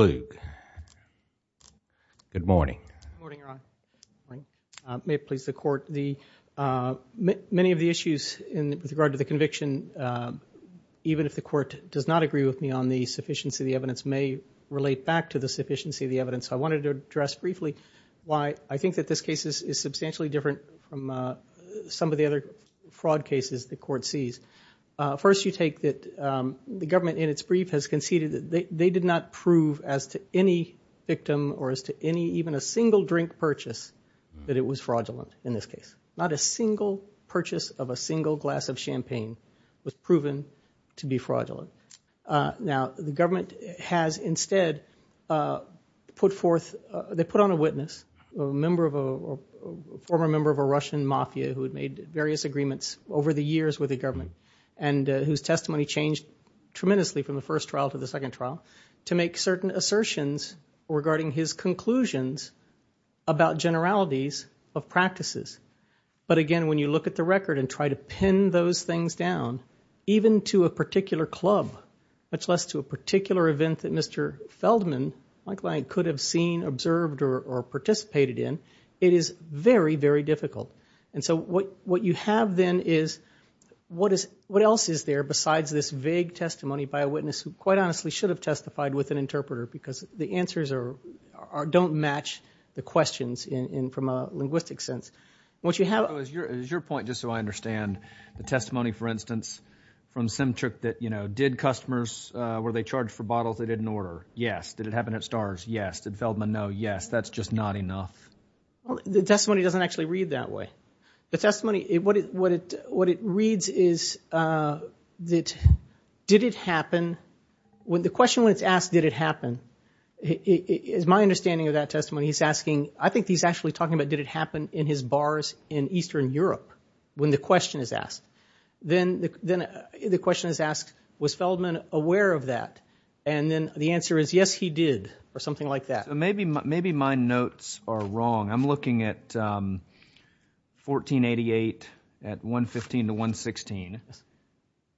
Good morning, Your Honor. May it please the Court, many of the issues with regard to the conviction, even if the Court does not agree with me on the sufficiency of the evidence, may relate back to the sufficiency of the evidence. I wanted to address briefly why I think that this case is substantially different from some of the other fraud cases the Court sees. First, you take that the government in its brief has conceded that they did not prove as to any victim or as to any, even a single drink purchase, that it was fraudulent in this case. Not a single purchase of a single glass of champagne was proven to be fraudulent. Now the government has instead put forth, they put on a witness, a member of a, a former member of a Russian mafia who had made various agreements over the years with the government and whose testimony changed tremendously from the first trial to the second trial, to make certain assertions regarding his conclusions about generalities of practices. But again, when you look at the record and try to pin those things down, even to a particular club, much less to a particular event that Mr. Feldman, my client, could have seen, observed, or participated in, it is very, very difficult. And so what, what you have then is, what is, what else is there besides this vague testimony by a witness who quite honestly should have testified with an interpreter because the answers are, are, don't match the questions in, in, from a linguistic sense. What you have- So is your, is your point, just so I understand, the testimony, for instance, from Simchuk that, you know, did customers, were they charged for bottles they didn't order? Yes. Did it happen? No. Yes. That's just not enough. The testimony doesn't actually read that way. The testimony, what it, what it, what it reads is that, did it happen? When the question was asked, did it happen? It, it, it is my understanding of that testimony, he's asking, I think he's actually talking about did it happen in his bars in Eastern Europe, when the question is asked. Then, then the question is asked, was Feldman aware of that? And then the answer is, yes, he did, or something like that. So maybe, maybe my notes are wrong. I'm looking at 1488 at 115 to 116.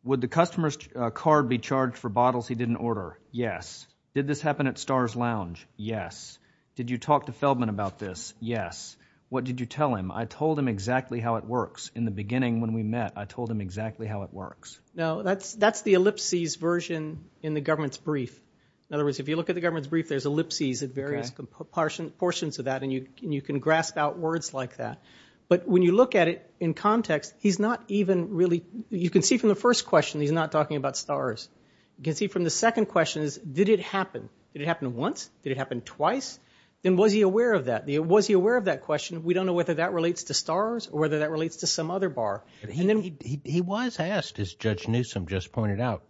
Would the customer's card be charged for bottles he didn't order? Yes. Did this happen at Star's Lounge? Yes. Did you talk to Feldman about this? Yes. What did you tell him? I told him exactly how it works. In the beginning, when we met, I told him exactly how it works. No, that's, that's the ellipses version in the government's brief. In other words, if you look at the government's brief, there's ellipses at various portions of that and you, you can grasp out words like that. But when you look at it in context, he's not even really, you can see from the first question, he's not talking about Star's. You can see from the second question is, did it happen? Did it happen once? Did it happen twice? And was he aware of that? Was he aware of that question? We don't know whether that relates to Star's or whether that relates to some other bar. He, he, he was asked, as Judge Newsom just pointed out,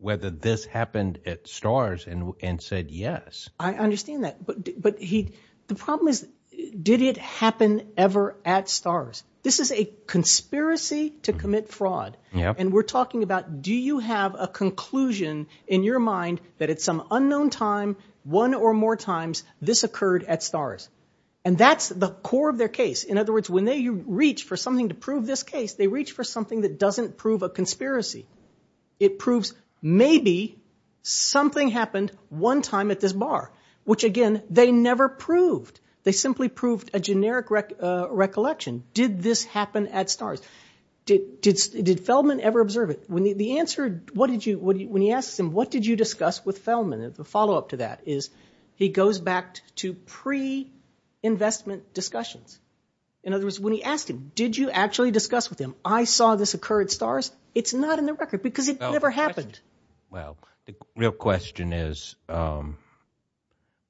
whether this happened at Star's and, and said yes. I understand that. But, but he, the problem is, did it happen ever at Star's? This is a conspiracy to commit fraud. And we're talking about, do you have a conclusion in your mind that at some unknown time, one or more times this occurred at Star's? And that's the core of their case. In other words, when they reach for something to prove this case, they reach for something that doesn't prove a conspiracy. It proves maybe something happened one time at this bar, which again, they never proved. They simply proved a generic recollection. Did this happen at Star's? Did, did, did Feldman ever observe it? When the, the answer, what did you, when he asks him, what did you discuss with Feldman? The follow-up to that is, he goes back to pre-investment discussions. In other words, when he asked him, did you actually discuss with him, I saw this occur at Star's? It's not in the record because it never happened. Well, the real question is, um,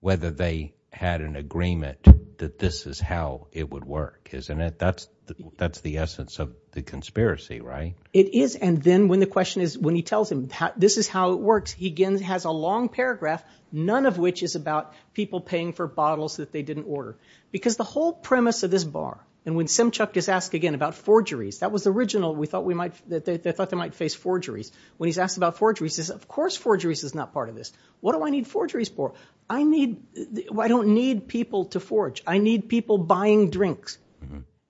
whether they had an agreement that this is how it would work, isn't it? That's, that's the essence of the conspiracy, right? It is. And then when the question is, when he tells him, this is how it works, he again has a long paragraph, none of which is about people paying for bottles that they didn't order. Because the whole premise of this bar, and when Simchuk is asked again about forgeries, that was original, we thought we might, that they thought they might face forgeries. When he's asked about forgeries, he says, of course forgeries is not part of this. What do I need forgeries for? I need, well, I don't need people to forge. I need people buying drinks.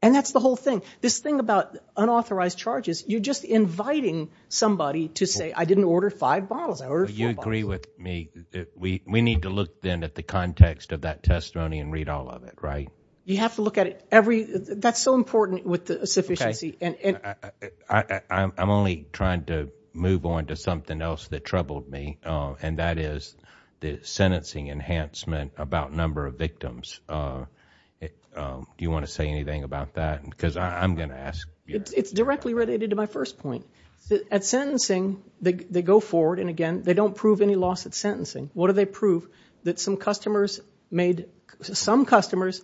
And that's the whole thing. This thing about unauthorized charges, you're just inviting somebody to say, I didn't order five bottles, I ordered four bottles. But you agree with me that we, we need to look then at the context of that testimony and read all of it, right? You have to look at it every, that's so important with the sufficiency and, and. I, I'm only trying to move on to something else that troubled me, and that is the sentencing enhancement about number of victims. Do you want to say anything about that? Because I'm going to ask. It's, it's directly related to my first point. At sentencing, they, they go forward and again, they don't prove any loss at sentencing. What do they prove? That some customers made, some customers,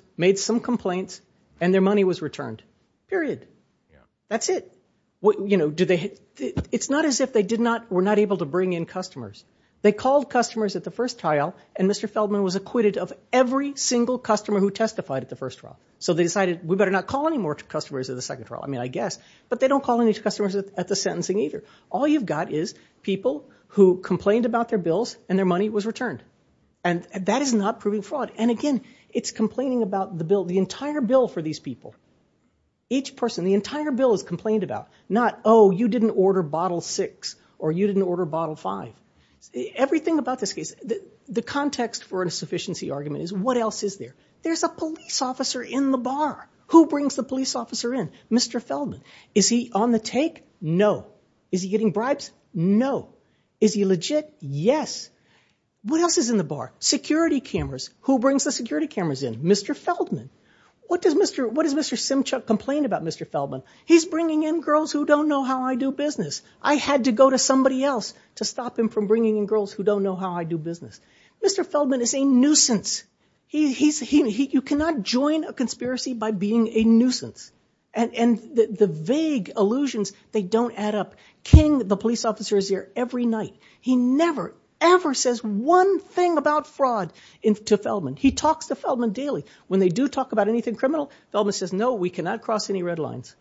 what, you know, do they, it's not as if they did not, were not able to bring in customers. They called customers at the first trial, and Mr. Feldman was acquitted of every single customer who testified at the first trial. So they decided, we better not call any more customers at the second trial. I mean, I guess, but they don't call any customers at the sentencing either. All you've got is people who complained about their bills and their money was returned. And that is not proving fraud. And again, it's complaining about the bill, the entire bill for these people, each person, the entire bill is complained about. Not, oh, you didn't order bottle six, or you didn't order bottle five. Everything about this case, the context for insufficiency argument is what else is there? There's a police officer in the bar. Who brings the police officer in? Mr. Feldman. Is he on the take? No. Is he getting bribes? No. Is he legit? Yes. What else is in the bar? Security cameras. Who brings the security cameras in? Mr. Feldman. What does Mr. Simchuk complain about Mr. Feldman? He's bringing in girls who don't know how I do business. I had to go to somebody else to stop him from bringing in girls who don't know how I do business. Mr. Feldman is a nuisance. You cannot join a conspiracy by being a nuisance. And the vague allusions, they don't add up. King, the police officer, is here every night. He never, ever says one thing about fraud to Feldman daily. When they do talk about anything criminal, Feldman says, no, we cannot cross any red lines.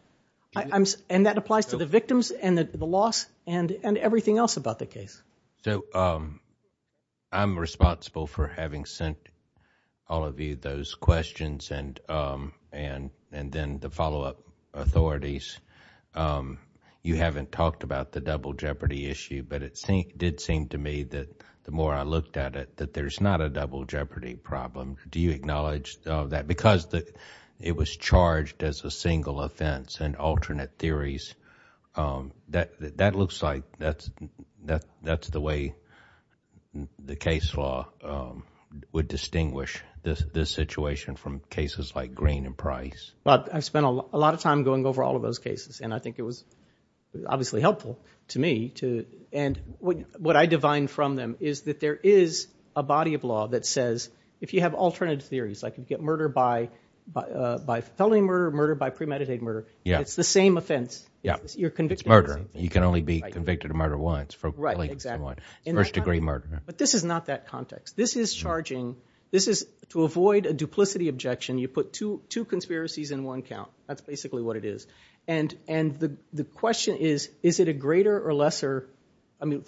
And that applies to the victims, and the loss, and everything else about the case. So I'm responsible for having sent all of you those questions, and then the follow-up authorities. You haven't talked about the double jeopardy issue, but it did seem to me that the more I looked at it, that there's not a double jeopardy problem. Do you acknowledge that? Because it was charged as a single offense and alternate theories, that looks like that's the way the case law would distinguish this situation from cases like Green and Price. Well, I spent a lot of time going over all of those cases, and I think it was obviously helpful to me. And what I divine from them is that there is a body of law that says, if you have alternate theories, like you get murder by felony murder, murder by premeditated murder, it's the same offense. You're convicted of the same thing. Murder. You can only be convicted of murder once. Right, exactly. First degree murder. But this is not that context. This is charging, this is to avoid a duplicity objection, you put two conspiracies in one count. That's basically what it is. And the question is, is it a greater or lesser, I mean,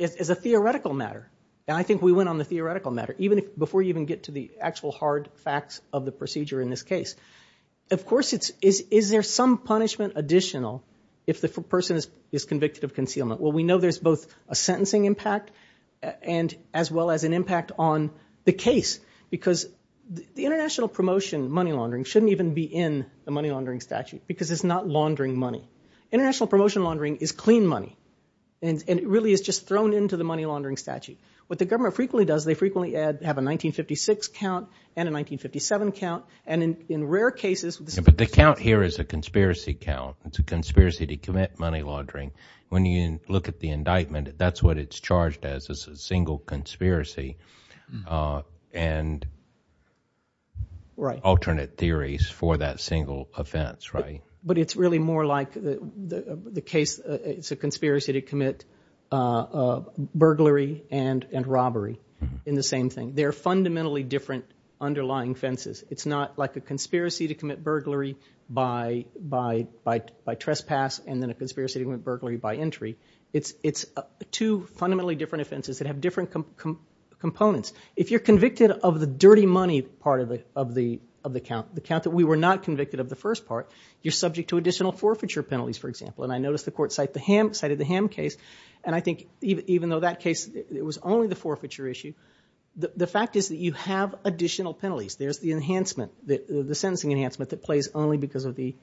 as a theoretical matter, and I think we went on the theoretical matter before you even get to the actual hard facts of the procedure in this case. Of course, is there some punishment additional if the person is convicted of concealment? Well, we know there's both a sentencing impact as well as an impact on the case, because the money laundering shouldn't even be in the money laundering statute, because it's not laundering money. International promotion laundering is clean money, and it really is just thrown into the money laundering statute. What the government frequently does, they frequently have a 1956 count and a 1957 count, and in rare cases... But the count here is a conspiracy count. It's a conspiracy to commit money laundering. When you look at the indictment, that's what it's charged as, it's a single conspiracy, and alternate theories for that single offense, right? But it's really more like the case, it's a conspiracy to commit burglary and robbery in the same thing. They're fundamentally different underlying offenses. It's not like a conspiracy to commit burglary by trespass, and then a conspiracy to commit burglary by entry. It's two fundamentally different offenses that have different components. If you're convicted of the dirty money part of the count, the count that we were not convicted of the first part, you're subject to additional forfeiture penalties, for example, and I noticed the court cited the Ham case, and I think even though that case, it was only the forfeiture issue, the fact is that you have additional penalties. There's the enhancement, the sentencing enhancement that plays only because of the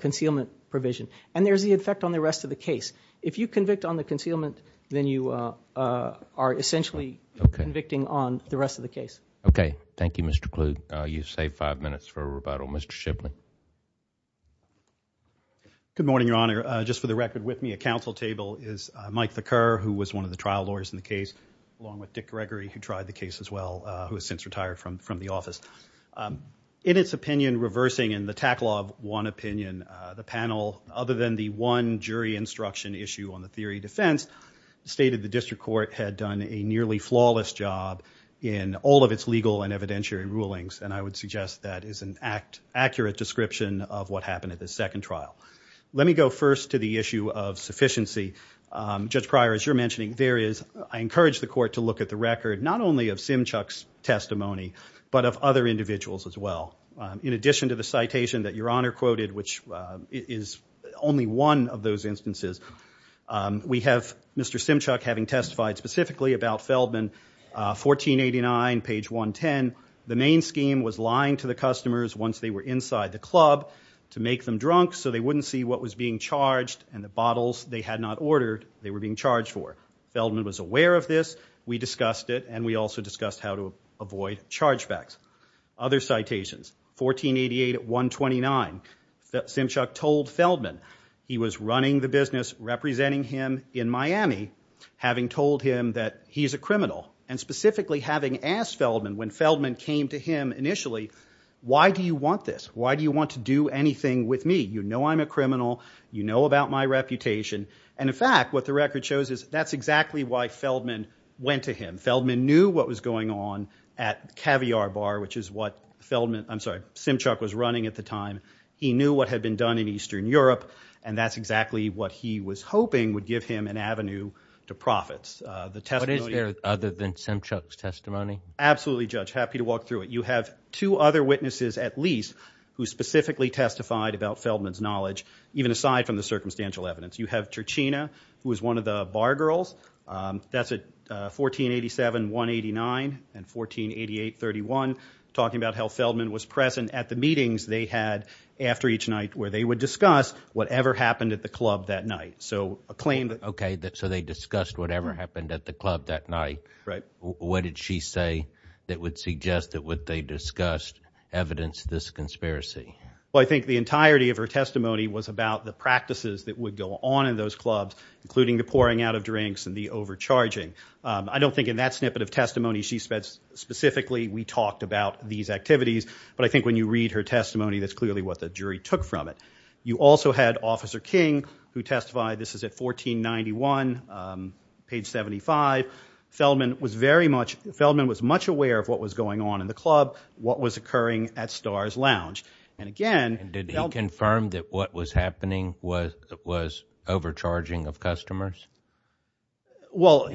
concealment provision, and there's the effect on the rest of the case. If you convict on the concealment, then you are essentially convicting on the rest of the case. Okay. Thank you, Mr. Kluge. You've saved five minutes for a rebuttal. Mr. Shipman. Good morning, Your Honor. Just for the record with me, at counsel table is Mike Thakur, who was one of the trial lawyers in the case, along with Dick Gregory, who tried the case as well, who has since retired from the office. In its opinion, reversing in the Tack Law of one opinion, the panel, other than the one jury instruction issue on the theory of defense, stated the district court had done a nearly flawless job in all of its legal and evidentiary rulings, and I would suggest that is an accurate description of what happened at the second trial. Let me go first to the issue of sufficiency. Judge Pryor, as you're mentioning, there is, I encourage the court to look at the record not only of Simchuk's testimony, but of other individuals as well. In addition to the citation that Your Honor quoted, which is only one of those instances, we have Mr. Simchuk having testified specifically about Feldman, 1489, page 110, the main scheme was lying to the customers once they were inside the club to make them drunk so they wouldn't see what was being charged and the bottles they had not ordered they were being charged for. Feldman was aware of this, we discussed it, and we also discussed how to avoid charge backs. Other citations, 1488, 129, Simchuk told Feldman he was running the business, representing him in Miami, having told him that he's a criminal, and specifically having asked Feldman when Feldman came to him initially, why do you want this? Why do you want to do anything with me? You know I'm a criminal, you know about my reputation, and in fact what the record shows is that's exactly why Feldman went to him. Feldman knew what was going on at Caviar Bar, which is what Feldman, I'm sorry, Simchuk was running at the time. He knew what had been done in Eastern Europe, and that's exactly what he was hoping would give him an avenue to profits. The testimony... What is there other than Simchuk's testimony? Absolutely Judge, happy to walk through it. You have two other witnesses at least who specifically testified about Feldman's knowledge, even aside from the circumstantial evidence. You have Turchina, who was one of the bar girls, that's at 1487, 189, and 1488, 31, talking about how Feldman was present at the meetings they had after each night where they would discuss whatever happened at the club that night. So a claim that... Okay, so they discussed whatever happened at the club that night. Right. What did she say that would suggest that what they discussed evidenced this conspiracy? Well, I think the entirety of her testimony was about the practices that would go on in those clubs, including the pouring out of drinks and the overcharging. I don't think in that snippet of testimony she specifically, we talked about these activities, but I think when you read her testimony, that's clearly what the jury took from it. You also had Officer King, who testified, this is at 1491, page 75. Feldman was very much... Feldman was much aware of what was going on in the club, what was occurring at the club. And again... Did he confirm that what was happening was overcharging of customers? Or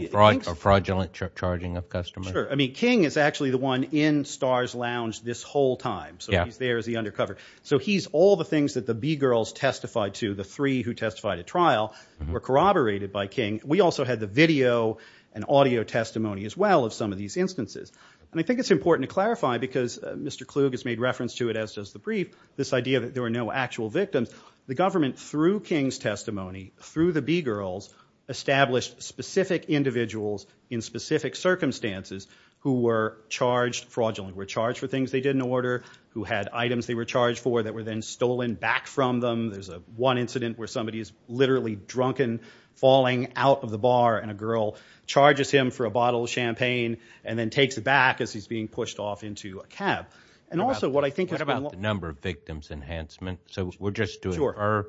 fraudulent charging of customers? Sure. I mean, King is actually the one in Starr's Lounge this whole time. So he's there as the undercover. So he's all the things that the B-girls testified to, the three who testified at trial, were corroborated by King. We also had the video and audio testimony as well of some of these instances. And I think it's important to clarify, because Mr. Brieff, this idea that there were no actual victims, the government, through King's testimony, through the B-girls, established specific individuals in specific circumstances who were charged fraudulently, were charged for things they didn't order, who had items they were charged for that were then stolen back from them. There's one incident where somebody is literally drunken, falling out of the bar, and a girl charges him for a bottle of champagne and then takes it back as he's being pushed off into a cab. And also, what I think about the number of victims enhancement. So we're just doing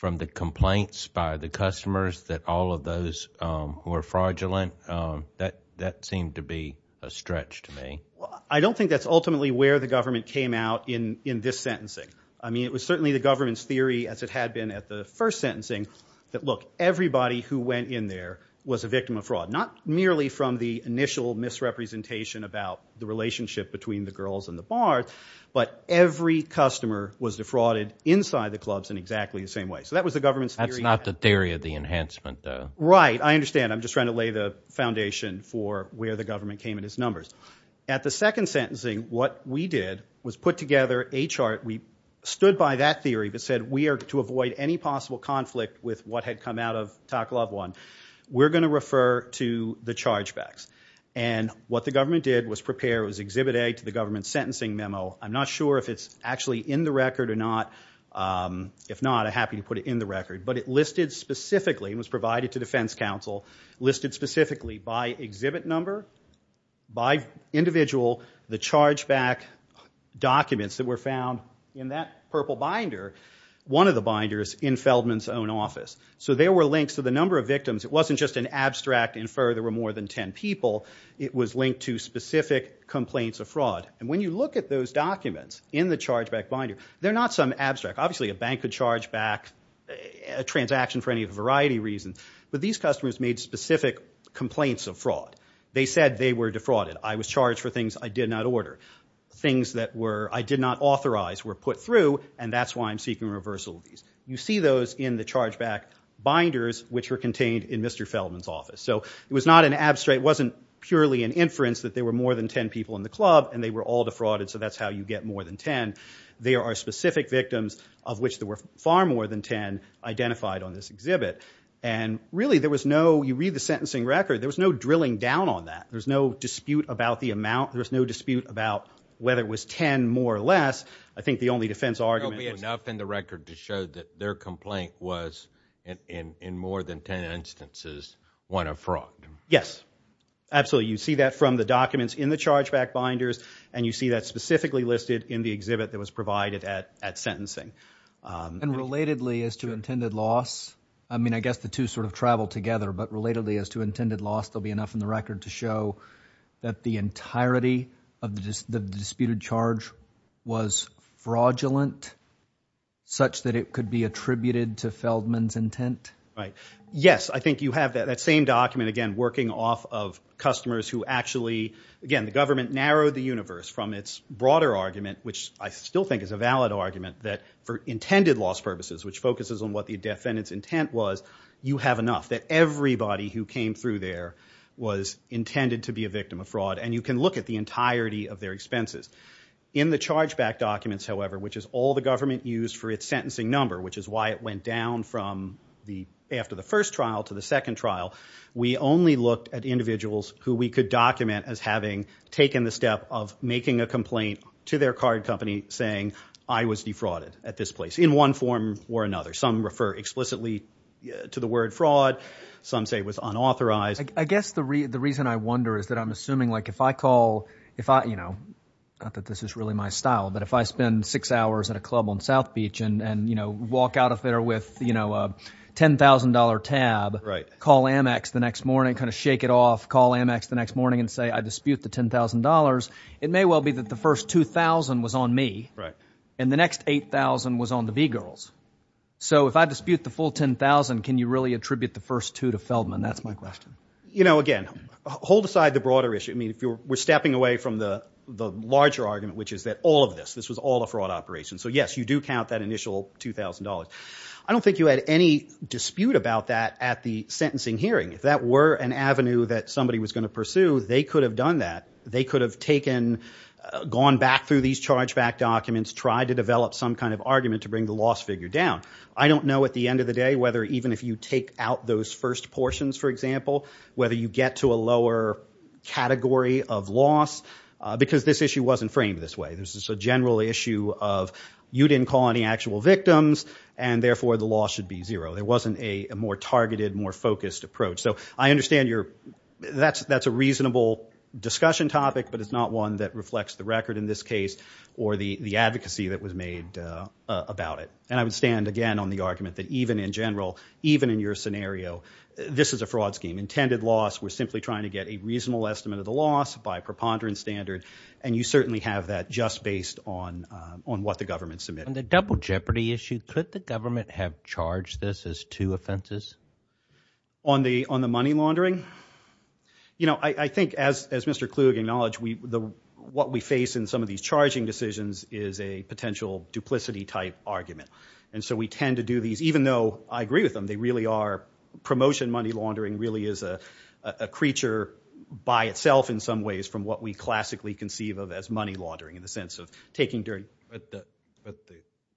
from the complaints by the customers that all of those who are fraudulent, that seemed to be a stretch to me. I don't think that's ultimately where the government came out in this sentencing. I mean, it was certainly the government's theory, as it had been at the first sentencing, that look, everybody who went in there was a victim of fraud. Not merely from the initial misrepresentation about the relationship between the girls and the bar, but every customer was defrauded inside the clubs in exactly the same way. So that was the government's theory. That's not the theory of the enhancement, though. Right. I understand. I'm just trying to lay the foundation for where the government came in its numbers. At the second sentencing, what we did was put together a chart. We stood by that theory that said we are to avoid any possible conflict with what had come out of it. What we did was prepare. It was Exhibit A to the government's sentencing memo. I'm not sure if it's actually in the record or not. If not, I'm happy to put it in the record. But it listed specifically, it was provided to defense counsel, listed specifically by exhibit number, by individual, the chargeback documents that were found in that purple binder, one of the binders, in Feldman's own office. So there were links to the number of victims. It wasn't just an abstract infer there were more than 10 people. It was linked to specific complaints of fraud. And when you look at those documents in the chargeback binder, they're not some abstract. Obviously a bank could charge back a transaction for any variety of reasons. But these customers made specific complaints of fraud. They said they were defrauded. I was charged for things I did not order. Things that I did not authorize were put through, and that's why I'm seeking reversal of these. You see those in the chargeback binders which were contained in Mr. Feldman's office. So it was not an abstract, it wasn't purely an inference that there were more than 10 people in the club, and they were all defrauded, so that's how you get more than 10. There are specific victims of which there were far more than 10 identified on this exhibit. And really there was no, you read the sentencing record, there was no drilling down on that. There was no dispute about the amount. There was no dispute about whether it was 10 more or less. I think the only defense argument was... Yes. Absolutely. You see that from the documents in the chargeback binders, and you see that specifically listed in the exhibit that was provided at sentencing. And relatedly as to intended loss, I mean I guess the two sort of travel together, but relatedly as to intended loss, there'll be enough in the record to show that the entirety of the disputed charge was fraudulent, such that it could be attributed to Feldman's intent? Right. Yes, I think you have that same document again working off of customers who actually, again, the government narrowed the universe from its broader argument, which I still think is a valid argument, that for intended loss purposes, which focuses on what the defendant's intent was, you have enough that everybody who came through there was intended to be a victim of fraud. And you can look at the entirety of their expenses. In the chargeback documents, however, which is all the government used for its sentencing number, which is why it went down from the, after the first trial to the second trial, we only looked at individuals who we could document as having taken the step of making a complaint to their card company saying, I was defrauded at this place, in one form or another. Some refer explicitly to the word fraud. Some say it was unauthorized. I guess the reason I wonder is that I'm assuming like if I call, if I, you know, not that this is really my style, but if I spend six hours at a club on South Beach and, you know, walk out of there with, you know, a $10,000 tab, call Amex the next morning, kind of shake it off, call Amex the next morning and say, I dispute the $10,000, it may well be that the first $2,000 was on me, and the next $8,000 was on the B-girls. So if I dispute the full $10,000, can you really attribute the first two to Feldman? That's my question. You know, again, hold aside the broader issue. I mean, we're stepping away from the larger argument, which is that all of this, this was all a fraud operation. So, yes, you do count that initial $2,000. I don't think you had any dispute about that at the sentencing hearing. If that were an avenue that somebody was going to pursue, they could have done that. They could have taken, gone back through these chargeback documents, tried to develop some kind of argument to bring the loss figure down. I don't know at the end of the day whether even if you take out those first portions, for example, whether you get to a lower category of loss, because this issue wasn't framed this way. This is a general issue of you didn't call any actual victims, and therefore the loss should be zero. There wasn't a more targeted, more focused approach. So I understand that's a reasonable discussion topic, but it's not one that reflects the record in this case or the advocacy that was made about it. And I would stand, again, on the argument that even in general, even in your scenario, this is a fraud scheme. Intended loss, we're simply trying to get a reasonable estimate of the loss by preponderance standard, and you certainly have that just based on what the government submitted. On the double jeopardy issue, could the government have charged this as two offenses? On the money laundering? You know, I think, as Mr. Kluge acknowledged, what we face in some of these charging decisions is a potential duplicity type argument. And so we tend to do these, even though I agree with them, they really are, promotion money laundering really is a creature by itself, in some ways, from what we classically conceive of as money laundering in the sense of taking during- But the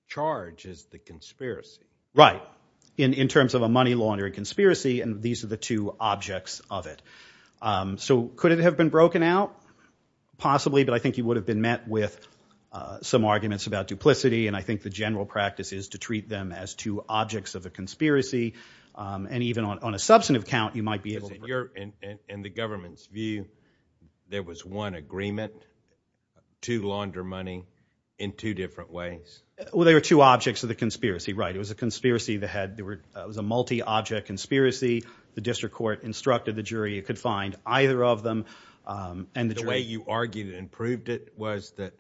charge is the conspiracy. Right. In terms of a money laundering conspiracy, and these are the two objects of it. So could it have been broken out? Possibly, but I think you would have been met with some arguments about duplicity, and I think the general practice is to treat them as two objects of a conspiracy. And even on a substantive count, you might be able to- In the government's view, there was one agreement, two launder money, in two different ways. Well, they were two objects of the conspiracy, right. It was a multi-object conspiracy. The district court instructed the jury. It could find either of them, and the jury- The way you argued and proved it was that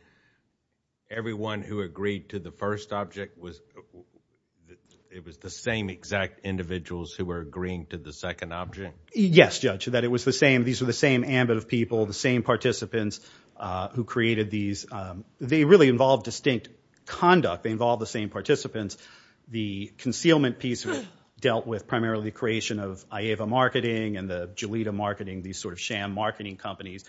everyone who agreed to the first object, it was the same exact individuals who were agreeing to the second object? Yes, Judge, that it was the same. These were the same ambit of people, the same participants who created these. They really involved distinct conduct. They involved the same participants. The concealment piece dealt with primarily the creation of IEVA Marketing and the Jolita Marketing, these sort of sham marketing companies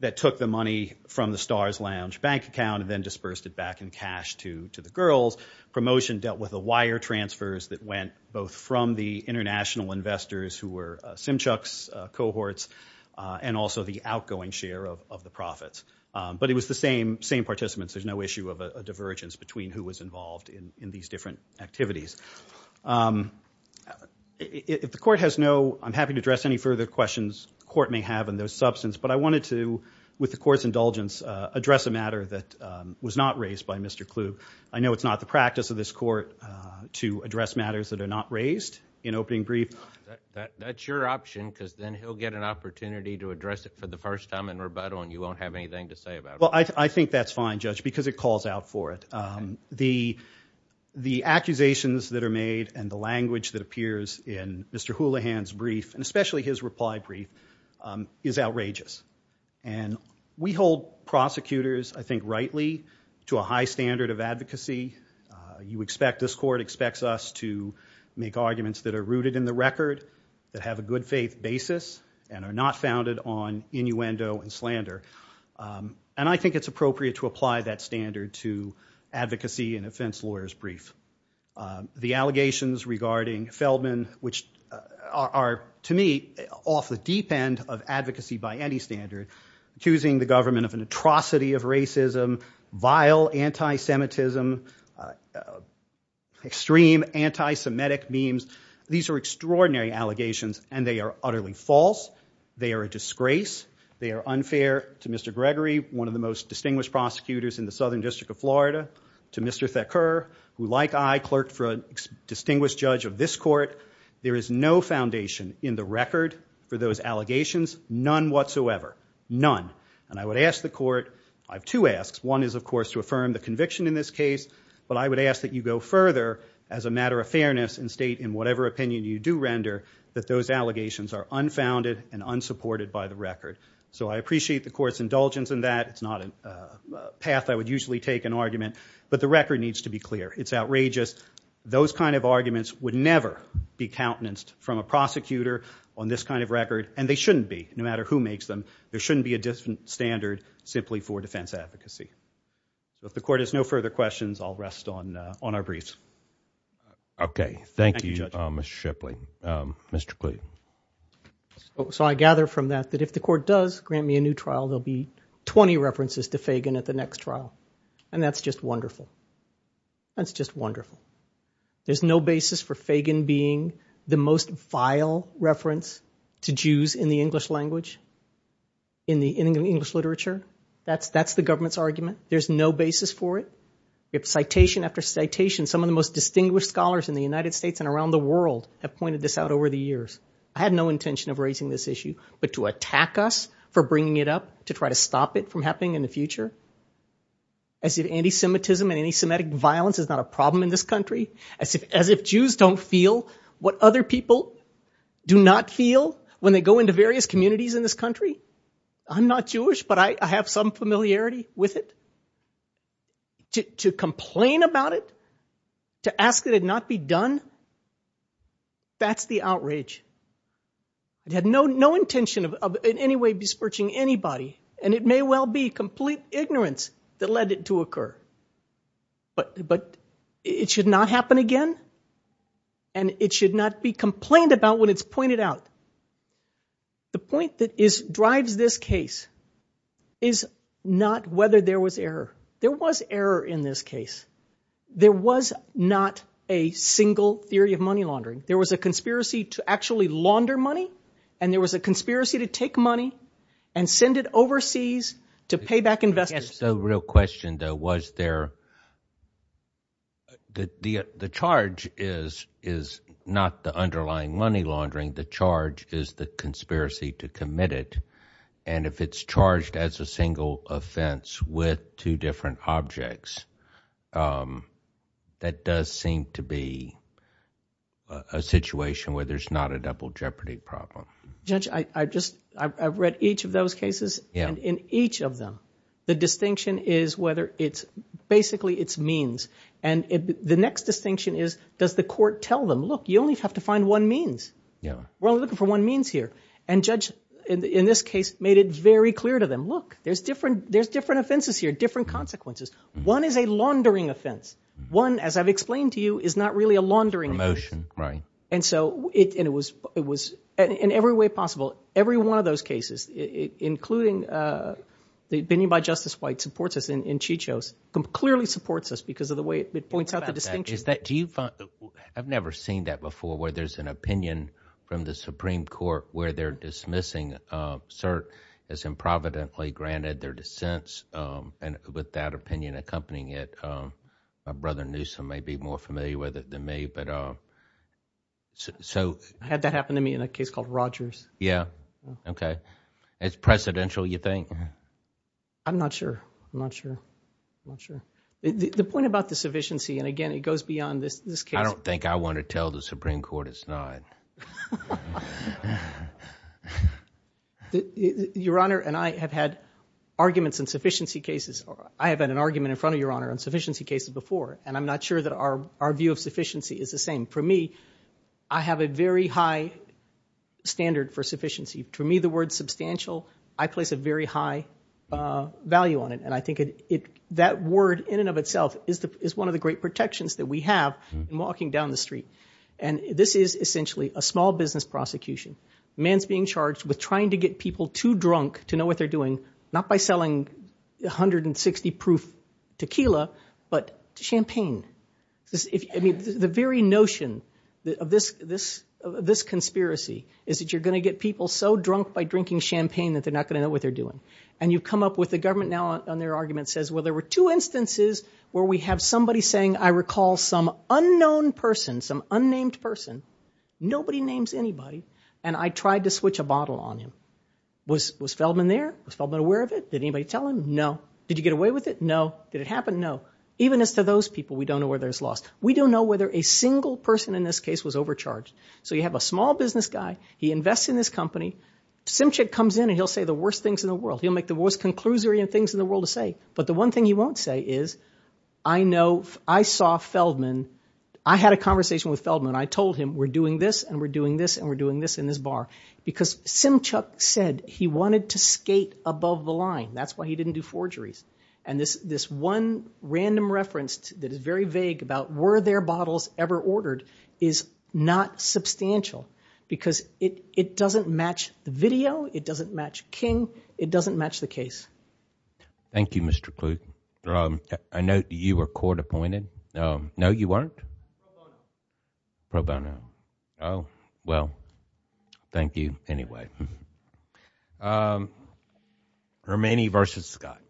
that took the money from the Stars Lounge bank account and then dispersed it back in cash to the girls. Promotion dealt with a number of higher transfers that went both from the international investors who were Simchuk's cohorts and also the outgoing share of the profits. But it was the same participants. There's no issue of a divergence between who was involved in these different activities. If the court has no- I'm happy to address any further questions the court may have in this substance, but I wanted to, with the court's indulgence, address a matter that was not raised by Mr. Kluge. I know it's not the practice of this court to address matters that are not raised in opening briefs. That's your option because then he'll get an opportunity to address it for the first time in rebuttal and you won't have anything to say about it. Well, I think that's fine, Judge, because it calls out for it. The accusations that are made and the language that appears in Mr. Houlihan's brief, and especially his reply brief, is outrageous. And we hold prosecutors, I think rightly, to a high standard of advocacy. You expect- this court expects us to make arguments that are rooted in the record, that have a good faith basis, and are not founded on innuendo and slander. And I think it's appropriate to apply that standard to advocacy and offense lawyers' brief. The allegations regarding Feldman, which are, to me, off the deep end of advocacy by any standard, accusing the government of an atrocity of racism, vile anti-Semitism, extreme anti-Semitic memes, these are extraordinary allegations and they are utterly false. They are a disgrace. They are unfair to Mr. Gregory, one of the most distinguished prosecutors in the Southern Atlantic. I clerked for a distinguished judge of this court. There is no foundation in the record for those allegations, none whatsoever, none. And I would ask the court- I have two asks. One is, of course, to affirm the conviction in this case, but I would ask that you go further as a matter of fairness and state in whatever opinion you do render that those allegations are unfounded and unsupported by the record. So I appreciate the court's indulgence in that. It's not a path I would usually take in argument, but the record needs to be clear. It's outrageous. Those kind of arguments would never be countenanced from a prosecutor on this kind of record, and they shouldn't be, no matter who makes them. There shouldn't be a different standard simply for defense advocacy. So if the court has no further questions, I'll rest on our briefs. Okay. Thank you, Judge. Thank you, Mr. Shipley. Mr. Klee. So I gather from that that if the court does grant me a new trial, there'll be 20 references to Fagan at the next trial, and that's just wonderful. That's just wonderful. There's no basis for Fagan being the most vile reference to Jews in the English language, in the English literature. That's the government's argument. There's no basis for it. If citation after citation, some of the most distinguished scholars in the United States and around the world have pointed this out over the years. I had no intention of raising this issue, but to the future, as if anti-Semitism and anti-Semitic violence is not a problem in this country, as if Jews don't feel what other people do not feel when they go into various communities in this country. I'm not Jewish, but I have some familiarity with it. To complain about it, to ask that it not be done, that's the outrage. I had no intention of in any way besmirching anybody, and it may well be complete ignorance that led it to occur. But it should not happen again, and it should not be complained about when it's pointed out. The point that drives this case is not whether there was error. There was error in this case. There was not a single theory of money laundering. There was a conspiracy to actually launder money, and there was a conspiracy to take money and send it overseas to pay back investors. The real question, though, was there, the charge is not the underlying money laundering. The charge is the conspiracy to commit it, and if it's charged as a single offense with two different objects, that does seem to be a situation where there's not a double jeopardy problem. Judge, I've read each of those cases, and in each of them, the distinction is whether it's basically its means. The next distinction is, does the court tell them, look, you only have to find one means. We're only looking for one means here. Judge, in this case, made it very clear to them, look, there's different offenses here, different consequences. One is a laundering offense. One, as I've explained to you, is not really a laundering offense. Promotion, right. And so, it was, in every way possible, every one of those cases, including the opinion by Justice White supports us in Chico's, clearly supports us because of the way it points out the distinction. Do you find, I've never seen that before, where there's an opinion from the Supreme Court where they're dismissing cert as improvidently granted their dissents, and with that opinion accompanying it. My brother, Newsom, may be more familiar with it than me, but so... I had that happen to me in a case called Rogers. Yeah? Okay. It's precedential, you think? I'm not sure. I'm not sure. I'm not sure. The point about the sufficiency, and again, it goes beyond this case... I don't think I want to tell the Supreme Court it's not. Your Honor, and I have had arguments in sufficiency cases. I have had an argument in front of Your Honor on sufficiency cases before, and I'm not sure that our view of sufficiency is the same. For me, I have a very high standard for sufficiency. To me, the word substantial, I place a very high value on it, and I think that word in and of itself is one of the great things. I've been charged with this. I'm actually a small business prosecution. They're trying to get people too drunk to know what they're doing, not by selling 160 proof tequila, but champagne. The very notion of this conspiracy is that you're going to get people so drunk by drinking champagne that they're not going to know what they're doing, and you come up with the government now on their argument says, well, there were two instances where we have somebody saying, I recall some unknown person, some unnamed person, nobody names anybody, and I tried to switch a bottle on him. Was Feldman there? Was Feldman aware of it? Did anybody tell him? No. Did you get away with it? No. Did it happen? No. Even as to those people, we don't know whether it's lost. We don't know whether a single person in this case was overcharged. So you have a small business guy. He invests in this company. Simchick comes in and he'll say the worst things in the world. He'll make the I saw Feldman. I had a conversation with Feldman. I told him we're doing this and we're doing this and we're doing this in this bar because Simchick said he wanted to skate above the line. That's why he didn't do forgeries. And this one random reference that is very vague about were there bottles ever ordered is not substantial because it doesn't match the video. It doesn't match King. It doesn't match the case. Thank you, Mr. Kluge. I know you were court appointed. No, no, you weren't. Pro bono. Oh, well, thank you anyway. Romani versus Scott.